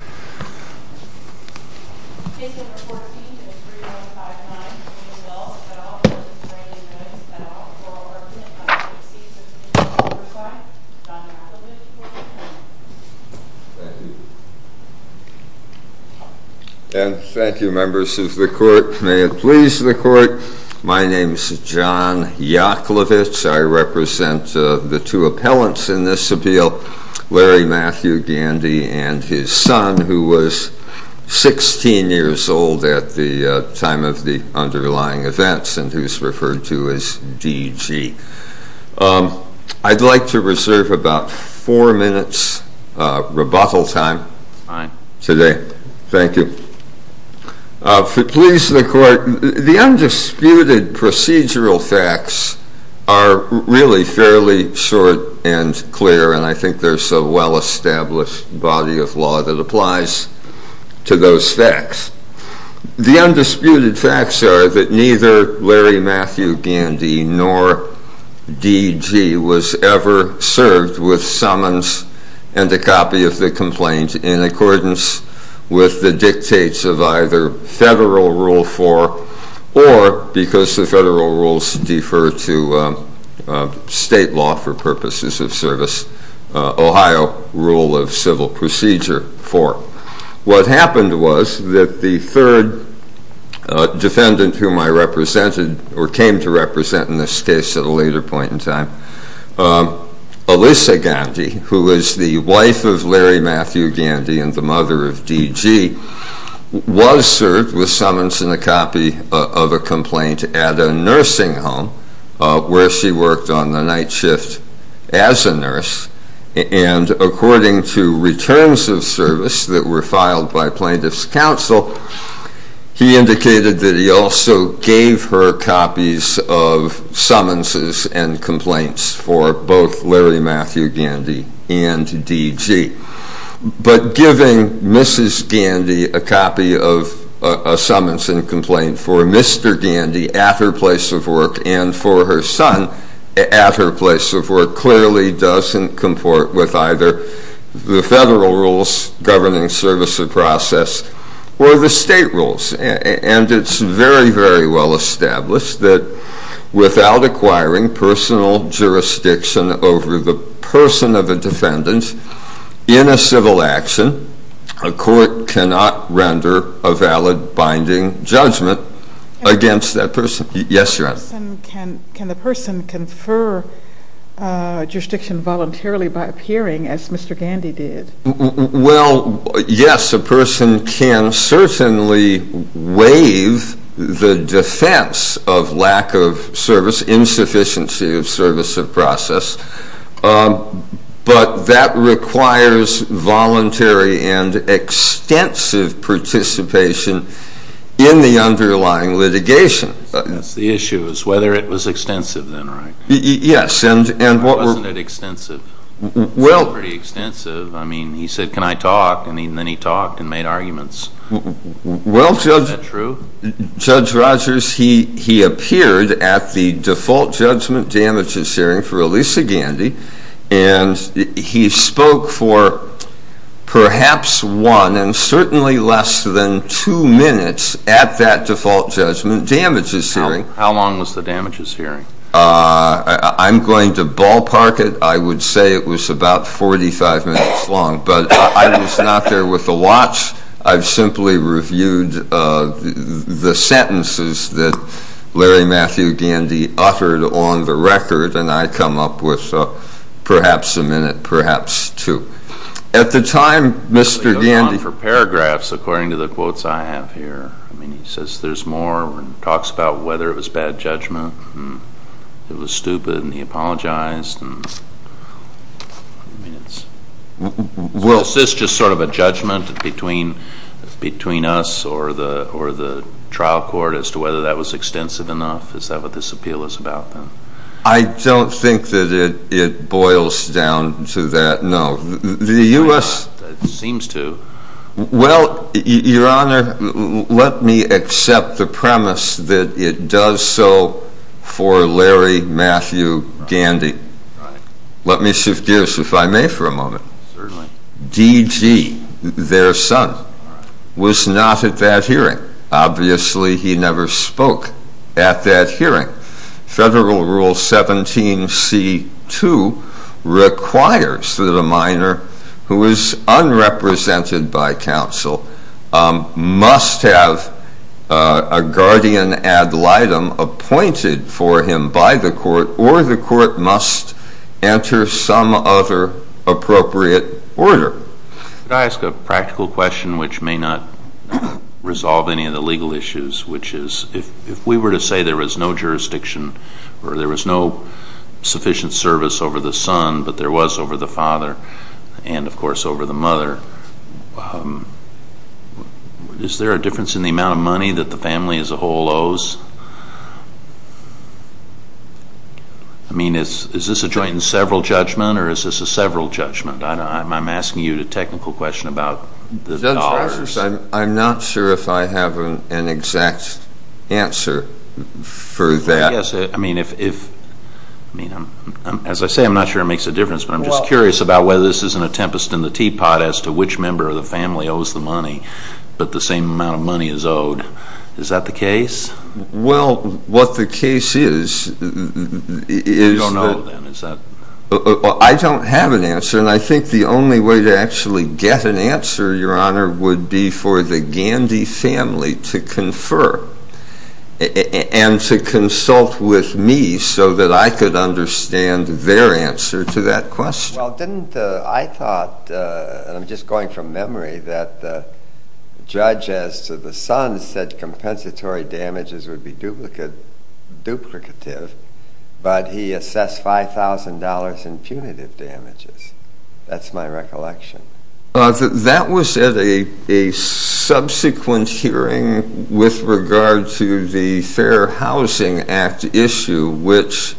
at all, oral argument by J. C. Cisneros Albershine, John Yaklovich, Court of Appeal. Thank you. And thank you, members of the Court. May it please the Court, my name is John Yaklovich. I represent the two appellants in this appeal, Larry Matthew Gandy and his son, who was 16 years old at the time of the underlying events and who is referred to as DG. I'd like to reserve about four minutes rebuttal time today. Thank you. If it pleases the Court, the undisputed procedural facts are really fairly short and clear and I think there's a well-established body of law that applies to those facts. The undisputed facts are that neither Larry Matthew Gandy nor DG was ever served with summons and a copy of the complaint in accordance with the dictates of either Federal Rule 4 or, because the Federal Rules defer to state law for purposes of service, Ohio Rule of Civil Procedure 4. What happened was that the third defendant whom I represented, or came to represent in this case at a later point in time, Alyssa Gandy, who was the wife of Larry Matthew Gandy and the mother of DG, was served with summons and a copy of a complaint at a nursing home, where she worked on the night shift as a nurse, and according to returns of service that were filed by plaintiff's counsel, he indicated that he also gave her copies of summonses and complaints for both Larry Matthew Gandy and DG. But giving Mrs. Gandy a copy of a summons and complaint for Mr. Gandy at her place of work and for her son at her place of work clearly doesn't comport with either the Federal Rules governing service or process or the state rules. And it's very, very well established that without acquiring personal jurisdiction over the person of a defendant in a civil action, a court cannot render a valid binding judgment against that person. Yes, Your Honor. Can the person confer jurisdiction voluntarily by appearing as Mr. Gandy did? Well, yes, a person can certainly waive the defense of lack of service, insufficiency of service of process, but that requires voluntary and extensive participation in the underlying litigation. That's the issue, is whether it was extensive then, right? Yes. Wasn't it extensive? Well. It was pretty extensive. I mean, he said, can I talk? And then he talked and made arguments. Well, Judge. Is that true? Judge Rogers, he appeared at the default judgment damages hearing for Elisa Gandy, and he spoke for perhaps one and certainly less than two minutes at that default judgment damages hearing. How long was the damages hearing? I'm going to ballpark it. I would say it was about 45 minutes long, but I was not there with a watch. I've simply reviewed the sentences that Larry Matthew Gandy uttered on the record, and I come up with perhaps a minute, perhaps two. At the time, Mr. Gandy. Go on for paragraphs according to the quotes I have here. I mean, he says there's more. He talks about whether it was bad judgment, it was stupid, and he apologized. Is this just sort of a judgment between us or the trial court as to whether that was extensive enough? Is that what this appeal is about then? I don't think that it boils down to that, no. The U.S. It seems to. Well, Your Honor, let me accept the premise that it does so for Larry Matthew Gandy. Let me suggest, if I may for a moment, DG, their son, was not at that hearing. Obviously, he never spoke at that hearing. Federal Rule 17c2 requires that a minor who is unrepresented by counsel must have a guardian ad litem appointed for him by the court, or the court must enter some other appropriate order. Could I ask a practical question which may not resolve any of the legal issues, which is if we were to say there was no jurisdiction or there was no sufficient service over the son, but there was over the father and, of course, over the mother, is there a difference in the amount of money that the family as a whole owes? I mean, is this a joint and several judgment or is this a several judgment? I'm asking you the technical question about the dollars. I'm not sure if I have an exact answer for that. Yes. I mean, as I say, I'm not sure it makes a difference, but I'm just curious about whether this isn't a tempest in the teapot as to which member of the family owes the money, but the same amount of money is owed. Is that the case? Well, what the case is, is that… You don't know, then, is that… I don't have an answer, and I think the only way to actually get an answer, Your Honor, would be for the Gandy family to confer and to consult with me so that I could understand their answer to that question. Well, didn't I thought, and I'm just going from memory, that the judge as to the son said compensatory damages would be duplicative, but he assessed $5,000 in punitive damages. That's my recollection. That was at a subsequent hearing with regard to the Fair Housing Act issue, which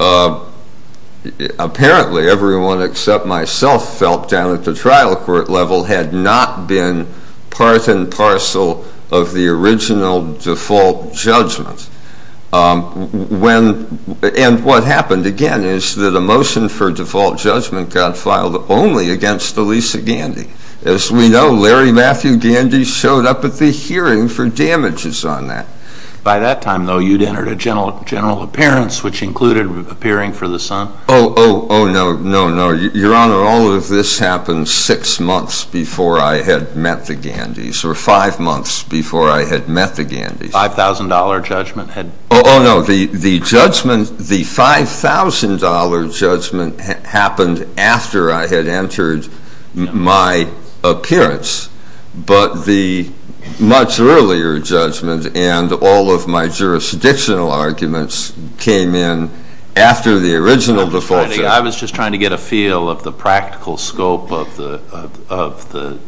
apparently everyone except myself felt down at the trial court level had not been part and parcel of the original default judgment. And what happened, again, is that a motion for default judgment got filed only against Elisa Gandy. As we know, Larry Matthew Gandy showed up at the hearing for damages on that. By that time, though, you'd entered a general appearance, which included appearing for the son. Oh, oh, oh, no, no, no. Your Honor, all of this happened six months before I had met the Gandys, or five months before I had met the Gandys. The $5,000 judgment had... Oh, no, the $5,000 judgment happened after I had entered my appearance, but the much earlier judgment and all of my jurisdictional arguments came in after the original default judgment. I was just trying to get a feel of the practical scope of the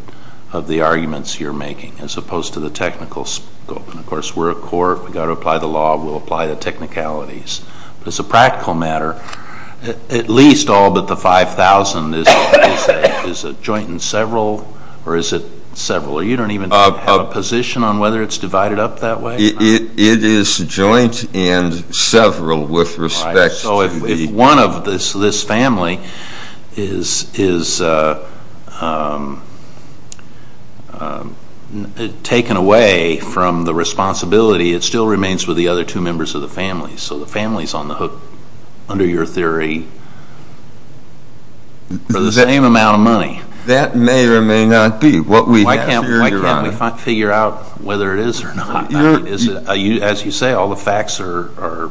arguments you're making as opposed to the technical scope. And, of course, we're a court. We've got to apply the law. We'll apply the technicalities. But as a practical matter, at least all but the $5,000, is it joint and several, or is it several? You don't even have a position on whether it's divided up that way? It is joint and several with respect to the... it still remains with the other two members of the family. So the family is on the hook, under your theory, for the same amount of money. That may or may not be what we have here, Your Honor. Why can't we figure out whether it is or not? As you say, all the facts are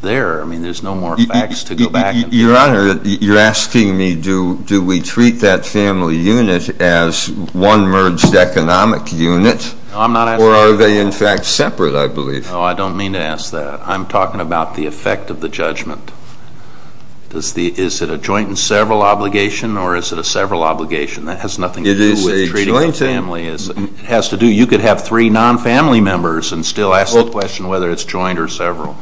there. I mean, there's no more facts to go back and... Your Honor, you're asking me do we treat that family unit as one merged economic unit? No, I'm not asking... Or are they, in fact, separate, I believe? No, I don't mean to ask that. I'm talking about the effect of the judgment. Is it a joint and several obligation, or is it a several obligation? That has nothing to do with treating a family. It is a joint... It has to do... You could have three non-family members and still ask the question whether it's joint or several.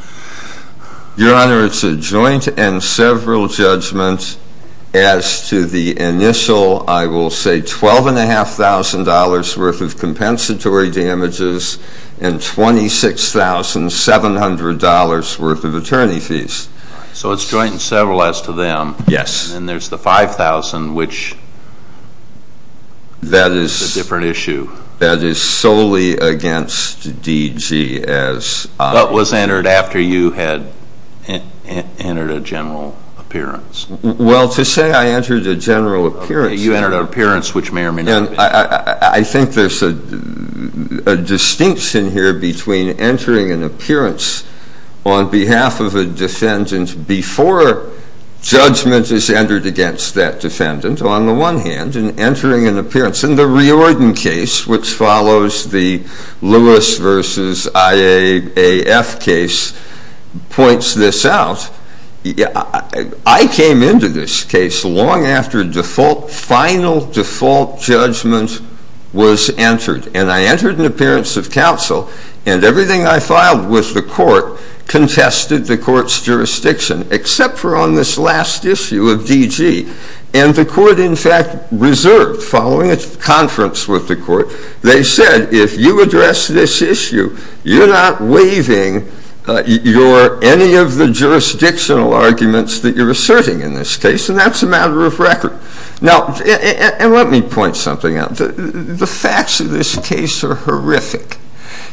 Your Honor, it's a joint and several judgment as to the initial, I will say, $12,500 worth of compensatory damages and $26,700 worth of attorney fees. So it's joint and several as to them. Yes. And then there's the $5,000, which is a different issue. That is solely against DGS. That was entered after you had entered a general appearance. Well, to say I entered a general appearance... You entered an appearance, which may or may not have been... I think there's a distinction here between entering an appearance on behalf of a defendant before judgment is entered against that defendant, on the one hand, and entering an appearance. And the Riordan case, which follows the Lewis v. IAAF case, points this out. I came into this case long after final default judgment was entered. And I entered an appearance of counsel, and everything I filed with the court contested the court's jurisdiction, except for on this last issue of DG. And the court, in fact, reserved, following a conference with the court, they said, if you address this issue, you're not waiving any of the jurisdictional arguments that you're asserting in this case, and that's a matter of record. Now, and let me point something out. The facts of this case are horrific.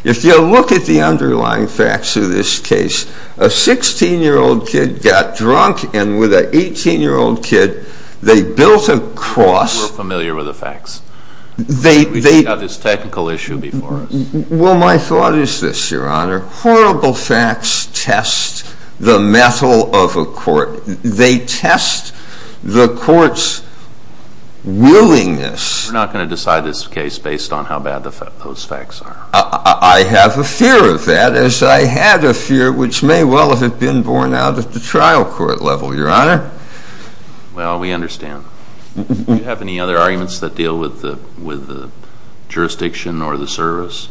If you look at the underlying facts of this case, a 16-year-old kid got drunk, and with an 18-year-old kid, they built a cross. We're familiar with the facts. We've got this technical issue before us. Well, my thought is this, Your Honor. Horrible facts test the mettle of a court. They test the court's willingness. We're not going to decide this case based on how bad those facts are. I have a fear of that, as I had a fear which may well have been borne out at the trial court level, Your Honor. Well, we understand. Do you have any other arguments that deal with the jurisdiction or the service?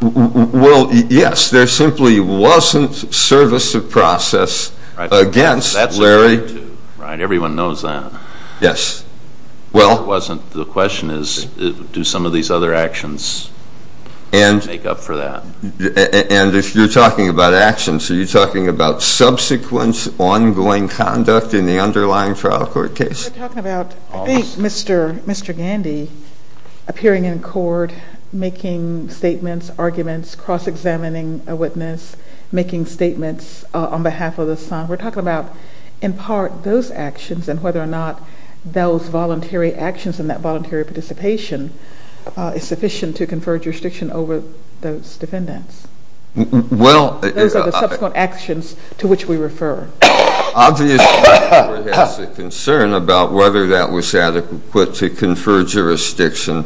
Well, yes. There simply wasn't service of process against Larry. Right, everyone knows that. Yes. The question is, do some of these other actions make up for that? And if you're talking about actions, are you talking about subsequent ongoing conduct in the underlying trial court case? We're talking about, I think, Mr. Gandy appearing in court, making statements, arguments, cross-examining a witness, making statements on behalf of the son. We're talking about, in part, those actions and whether or not those voluntary actions and that voluntary participation is sufficient to confer jurisdiction over those defendants. Those are the subsequent actions to which we refer. Obviously, the court has a concern about whether that was adequate to confer jurisdiction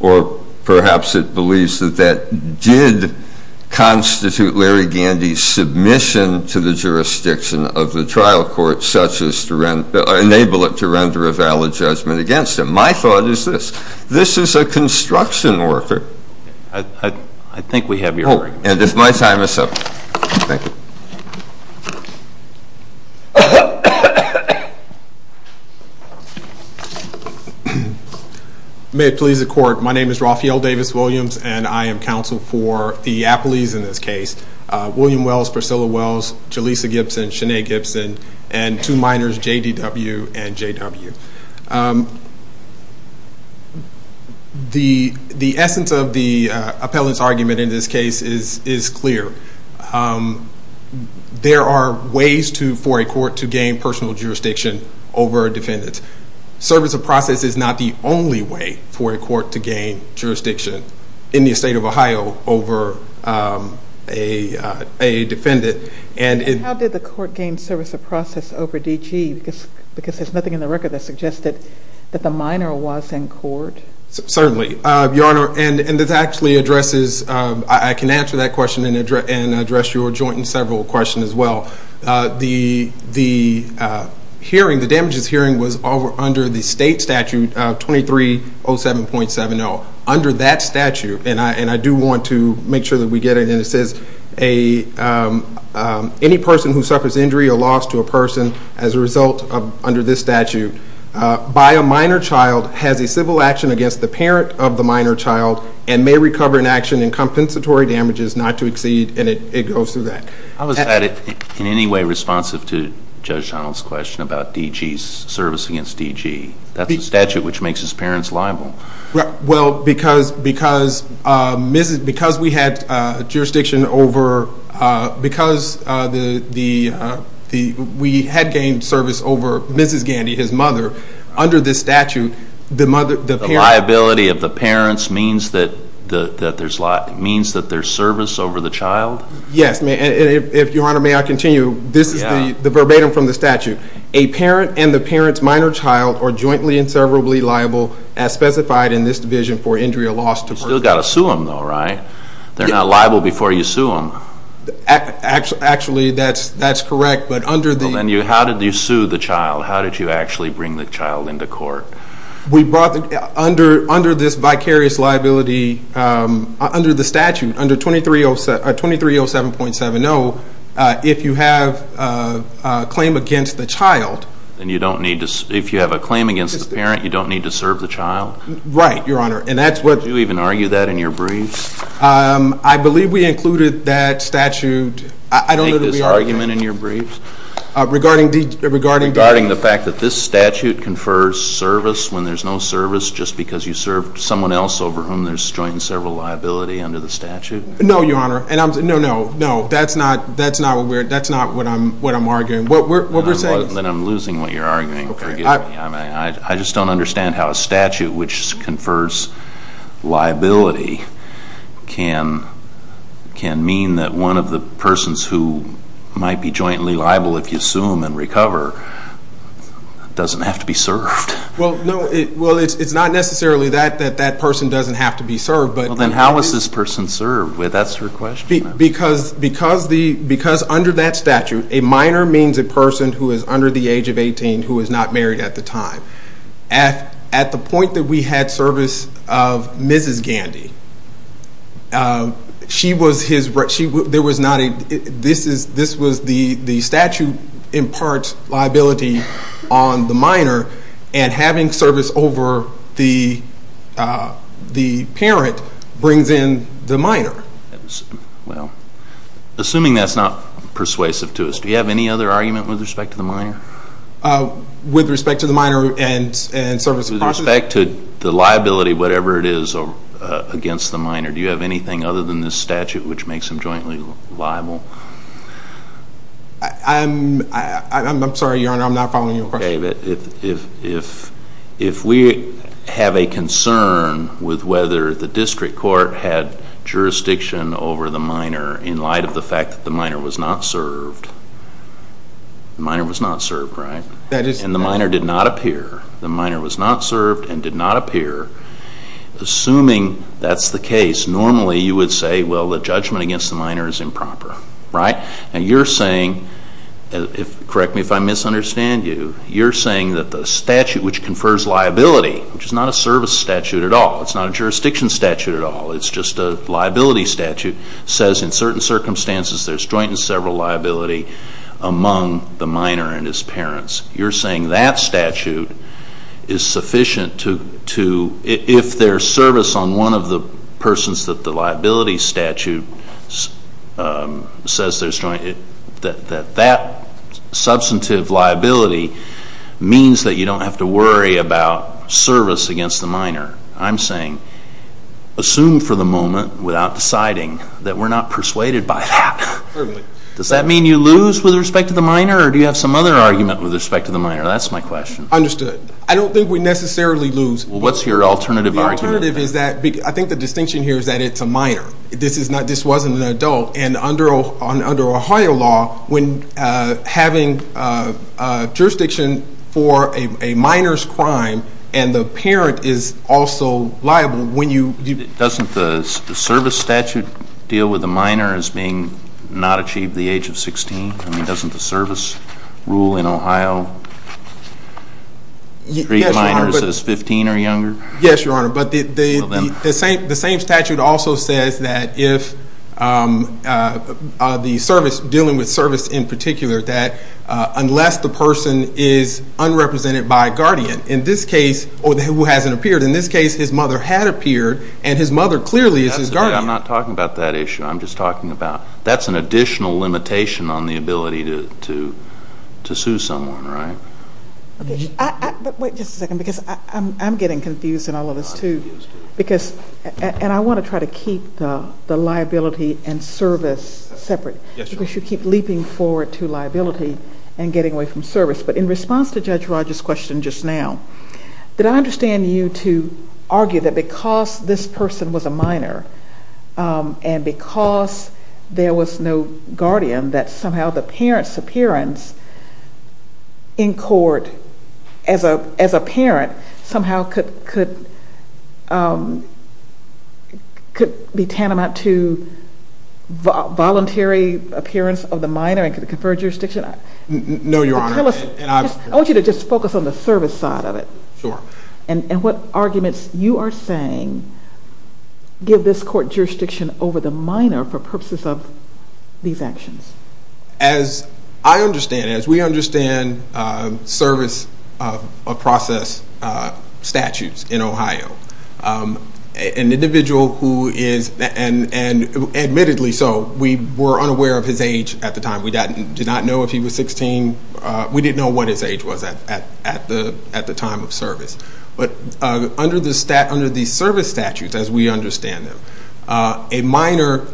or perhaps it believes that that did constitute Larry Gandy's submission to the jurisdiction of the trial court, such as to enable it to render a valid judgment against him. My thought is this. This is a construction worker. I think we have your point. Oh, and if my time is up. Thank you. May it please the court. My name is Rafael Davis Williams, and I am counsel for the appellees in this case, William Wells, Priscilla Wells, Jaleesa Gibson, Shanae Gibson, and two minors, J.D.W. and J.W. The essence of the appellant's argument in this case is clear. There are ways for a court to gain personal jurisdiction over a defendant. Service of process is not the only way for a court to gain jurisdiction in the state of Ohio over a defendant. How did the court gain service of process over D.G.? Because there's nothing in the record that suggests that the minor was in court. Certainly. Your Honor, and this actually addresses, I can answer that question and address your joint and several questions as well. The hearing, the damages hearing was under the state statute 2307.70. Under that statute, and I do want to make sure that we get it, and it says any person who suffers injury or loss to a person as a result under this statute by a minor child has a civil action against the parent of the minor child and may recover an action in compensatory damages not to exceed, and it goes through that. How is that in any way responsive to Judge Donald's question about D.G.'s service against D.G.? That's a statute which makes his parents liable. Well, because we had jurisdiction over, because we had gained service over Mrs. Gandy, his mother, under this statute, the parents. The liability of the parents means that there's service over the child? Yes. Your Honor, may I continue? Yeah. This is the verbatim from the statute. A parent and the parent's minor child are jointly and severably liable as specified in this division for injury or loss to a person. You've still got to sue them though, right? They're not liable before you sue them. Actually, that's correct, but under the... We brought under this vicarious liability, under the statute, under 2307.70, if you have a claim against the child... If you have a claim against the parent, you don't need to serve the child? Right, Your Honor, and that's what... Do you even argue that in your briefs? I believe we included that statute... Do you make this argument in your briefs? Regarding D... Regarding the fact that this statute confers service when there's no service just because you served someone else over whom there's joint and several liability under the statute? No, Your Honor. No, no, no. That's not what we're... That's not what I'm arguing. What we're saying is... Then I'm losing what you're arguing, forgive me. I just don't understand how a statute which confers liability can mean that one of the persons who might be jointly liable if you sue them and recover doesn't have to be served. Well, no... Well, it's not necessarily that that person doesn't have to be served, but... Well, then how is this person served? That's your question. Because under that statute, a minor means a person who is under the age of 18 who is not married at the time. At the point that we had service of Mrs. Gandy, she was his... There was not a... This was the statute imparts liability on the minor, and having service over the parent brings in the minor. Well, assuming that's not persuasive to us, do you have any other argument with respect to the minor? With respect to the minor and service... With respect to the liability, whatever it is against the minor, do you have anything other than this statute which makes him jointly liable? I'm sorry, Your Honor, I'm not following your question. If we have a concern with whether the district court had jurisdiction over the minor in light of the fact that the minor was not served... The minor was not served, right? And the minor did not appear. The minor was not served and did not appear. Assuming that's the case, normally you would say, well, the judgment against the minor is improper, right? And you're saying, correct me if I misunderstand you, you're saying that the statute which confers liability, which is not a service statute at all, it's not a jurisdiction statute at all, it's just a liability statute, says in certain circumstances there's joint and several liability among the minor and his parents. You're saying that statute is sufficient to, if there's service on one of the persons that the liability statute says there's joint, that that substantive liability means that you don't have to worry about service against the minor. I'm saying, assume for the moment, without deciding, that we're not persuaded by that. Does that mean you lose with respect to the minor or do you have some other argument with respect to the minor? That's my question. Understood. I don't think we necessarily lose. Well, what's your alternative argument? The alternative is that, I think the distinction here is that it's a minor. This wasn't an adult. And under Ohio law, when having jurisdiction for a minor's crime and the parent is also liable, when you... Doesn't the service statute deal with the minor as being not achieved the age of 16? I mean, doesn't the service rule in Ohio treat minors as 15 or younger? Yes, Your Honor, but the same statute also says that if the service, dealing with service in particular, that unless the person is unrepresented by a guardian, in this case, or who hasn't appeared, in this case, his mother had appeared and his mother clearly is his guardian. I'm not talking about that issue. I'm just talking about that's an additional limitation on the ability to sue someone, right? But wait just a second because I'm getting confused in all of this, too. I'm confused, too. Because, and I want to try to keep the liability and service separate. Yes, Your Honor. Because you keep leaping forward to liability and getting away from service. But in response to Judge Rogers' question just now, did I understand you to argue that because this person was a minor and because there was no guardian, that somehow the parent's appearance in court as a parent somehow could be tantamount to voluntary appearance of the minor and could confer jurisdiction? No, Your Honor. I want you to just focus on the service side of it. Sure. And what arguments you are saying give this court jurisdiction over the minor for purposes of these actions? As I understand, as we understand service of process statutes in Ohio, an individual who is, and admittedly so, we were unaware of his age at the time. We did not know if he was 16. We didn't know what his age was at the time of service. But under the service statutes as we understand them, a minor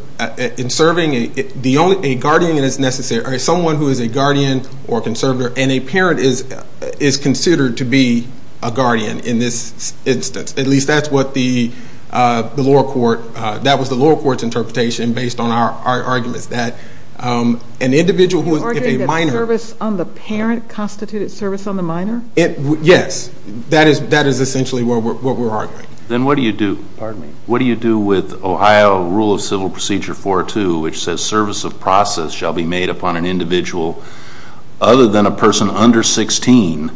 in serving, a guardian is necessary, or someone who is a guardian or conservator and a parent is considered to be a guardian in this instance. At least that's what the lower court, that was the lower court's interpretation based on our arguments that an individual who is a minor. Are you arguing that service on the parent constituted service on the minor? Yes. That is essentially what we're arguing. Then what do you do? Pardon me? What do you do with Ohio Rule of Civil Procedure 4.2, which says service of process shall be made upon an individual other than a person under 16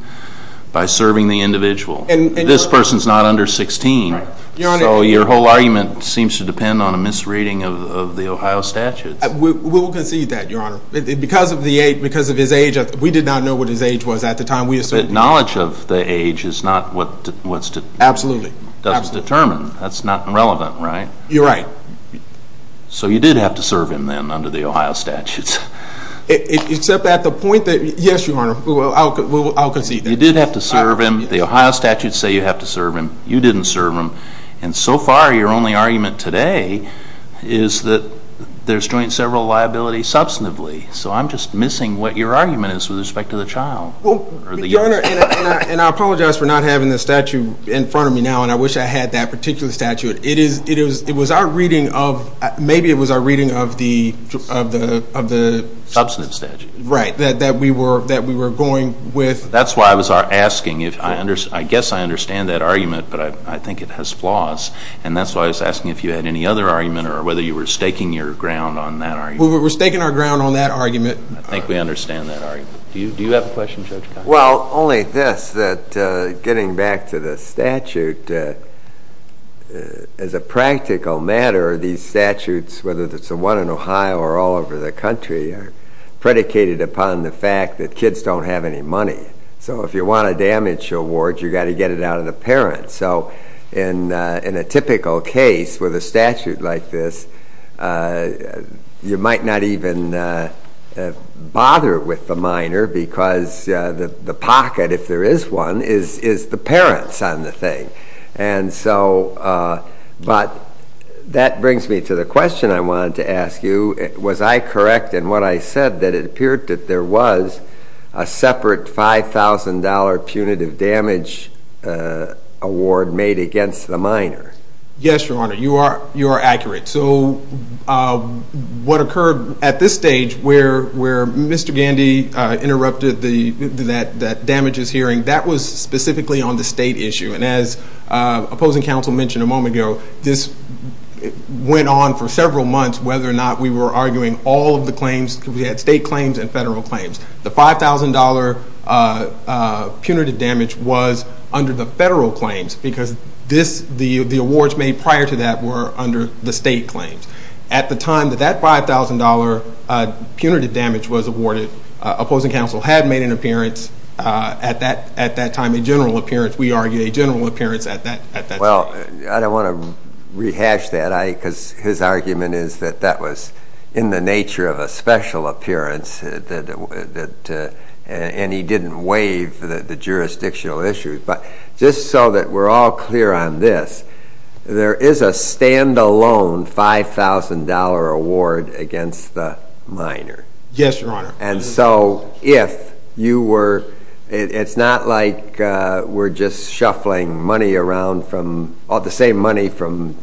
by serving the individual? This person's not under 16. Your Honor. So your whole argument seems to depend on a misreading of the Ohio statutes. We will concede that, Your Honor. Because of his age, we did not know what his age was at the time we assumed him. But knowledge of the age is not what's determined. Absolutely. That's not relevant, right? You're right. So you did have to serve him then under the Ohio statutes. Except at the point that, yes, Your Honor, I'll concede that. You did have to serve him. The Ohio statutes say you have to serve him. You didn't serve him. And so far, your only argument today is that there's joint several liability substantively. So I'm just missing what your argument is with respect to the child. Your Honor, and I apologize for not having the statute in front of me now, and I wish I had that particular statute. It was our reading of the substantive statute that we were going with. That's why I was asking. I guess I understand that argument, but I think it has flaws. And that's why I was asking if you had any other argument or whether you were staking your ground on that argument. We were staking our ground on that argument. I think we understand that argument. Do you have a question, Judge Kline? Well, only this, that getting back to the statute, as a practical matter, these statutes, whether it's the one in Ohio or all over the country, are predicated upon the fact that kids don't have any money. So if you want a damage award, you've got to get it out of the parents. So in a typical case with a statute like this, you might not even bother with the minor because the pocket, if there is one, is the parents on the thing. But that brings me to the question I wanted to ask you. Was I correct in what I said that it appeared that there was a separate $5,000 punitive damage award made against the minor? Yes, Your Honor. You are accurate. So what occurred at this stage where Mr. Gandy interrupted that damages hearing, that was specifically on the state issue. And as opposing counsel mentioned a moment ago, this went on for several months whether or not we were arguing all of the claims. We had state claims and federal claims. The $5,000 punitive damage was under the federal claims because the awards made prior to that were under the state claims. At the time that that $5,000 punitive damage was awarded, opposing counsel had made an appearance, at that time a general appearance, if we argue a general appearance at that time. Well, I don't want to rehash that because his argument is that that was in the nature of a special appearance and he didn't waive the jurisdictional issues. But just so that we're all clear on this, there is a standalone $5,000 award against the minor. Yes, Your Honor. And so if you were, it's not like we're just shuffling money around from, the same money from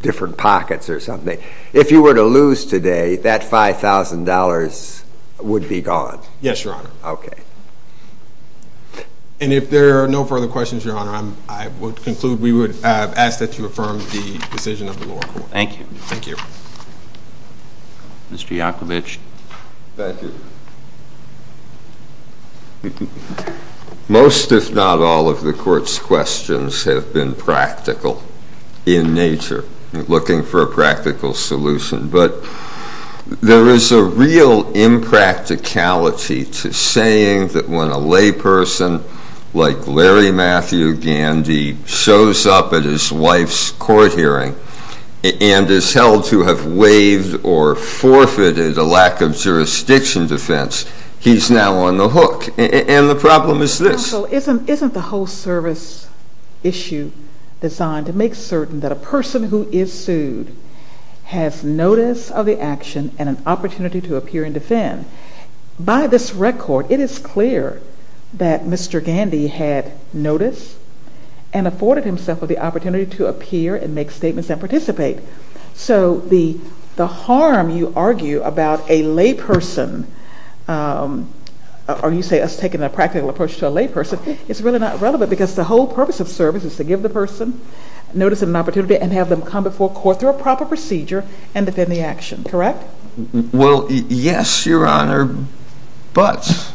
different pockets or something. If you were to lose today, that $5,000 would be gone. Yes, Your Honor. Okay. And if there are no further questions, Your Honor, I would conclude we would ask that you affirm the decision of the lower court. Thank you. Thank you. Mr. Yakovitch. Thank you. Most, if not all, of the Court's questions have been practical in nature, looking for a practical solution. But there is a real impracticality to saying that when a layperson like Larry Matthew Gandy shows up at his wife's court hearing and is held to have waived or forfeited a lack of jurisdiction defense, he's now on the hook. And the problem is this. So isn't the whole service issue designed to make certain that a person who is sued has notice of the action and an opportunity to appear and defend? By this record, it is clear that Mr. Gandy had notice and afforded himself with the opportunity to appear and make statements and participate. So the harm you argue about a layperson, or you say us taking a practical approach to a layperson, is really not relevant because the whole purpose of service is to give the person notice and an opportunity and have them come before court through a proper procedure and defend the action. Correct? Well, yes, Your Honor, but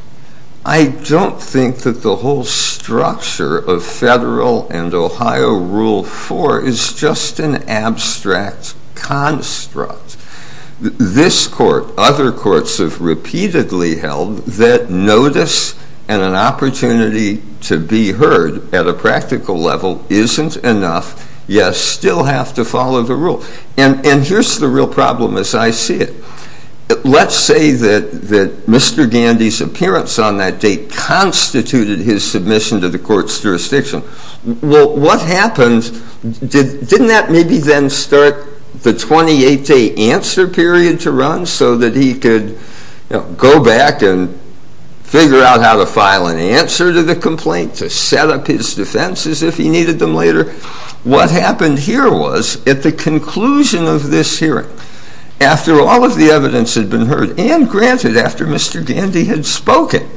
I don't think that the whole structure of federal and Ohio Rule 4 is just an abstract construct. This Court, other courts have repeatedly held that notice and an opportunity to be heard at a practical level isn't enough, yet still have to follow the rule. And here's the real problem as I see it. Let's say that Mr. Gandy's appearance on that date constituted his submission to the court's jurisdiction. Well, what happened? Didn't that maybe then start the 28-day answer period to run so that he could go back and figure out how to file an answer to the complaint, to set up his defenses if he needed them later? What happened here was, at the conclusion of this hearing, after all of the evidence had been heard and granted after Mr. Gandy had spoken,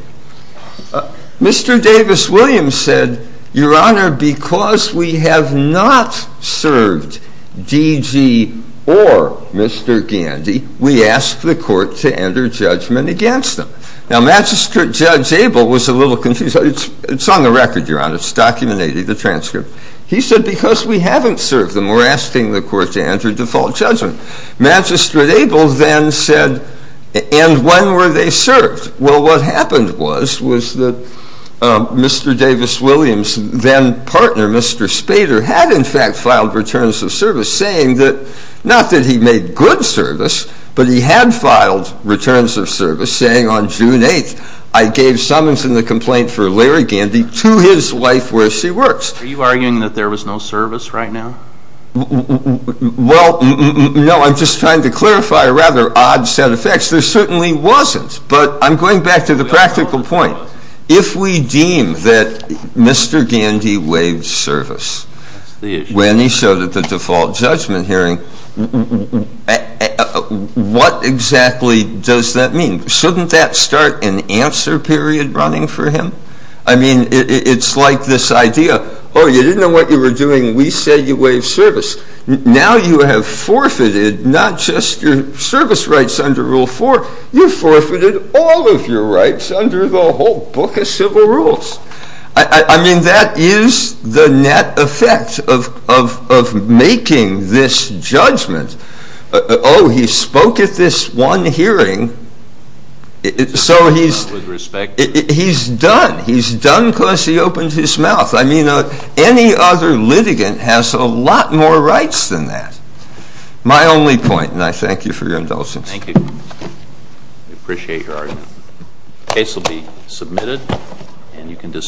Mr. Davis Williams said, Your Honor, because we have not served DG or Mr. Gandy, we ask the court to enter judgment against him. Now, Magistrate Judge Abel was a little confused. It's on the record, Your Honor. It's documented in the transcript. He said, because we haven't served them, we're asking the court to enter default judgment. Magistrate Abel then said, and when were they served? Well, what happened was, was that Mr. Davis Williams' then partner, Mr. Spader, had in fact filed returns of service saying that, not that he made good service, but he had filed returns of service saying on June 8th, I gave summons in the complaint for Larry Gandy to his wife where she works. Are you arguing that there was no service right now? Well, no, I'm just trying to clarify a rather odd set of facts. There certainly wasn't, but I'm going back to the practical point. If we deem that Mr. Gandy waived service when he showed at the default judgment hearing, what exactly does that mean? Shouldn't that start an answer period running for him? I mean, it's like this idea, oh, you didn't know what you were doing, we said you waived service. Now you have forfeited not just your service rights under Rule 4, you've forfeited all of your rights under the whole book of civil rules. I mean, that is the net effect of making this judgment. Oh, he spoke at this one hearing, so he's done. He's done because he opened his mouth. I mean, any other litigant has a lot more rights than that. My only point, and I thank you for your indulgence. Thank you. We appreciate your argument. The case will be submitted, and you can dismiss.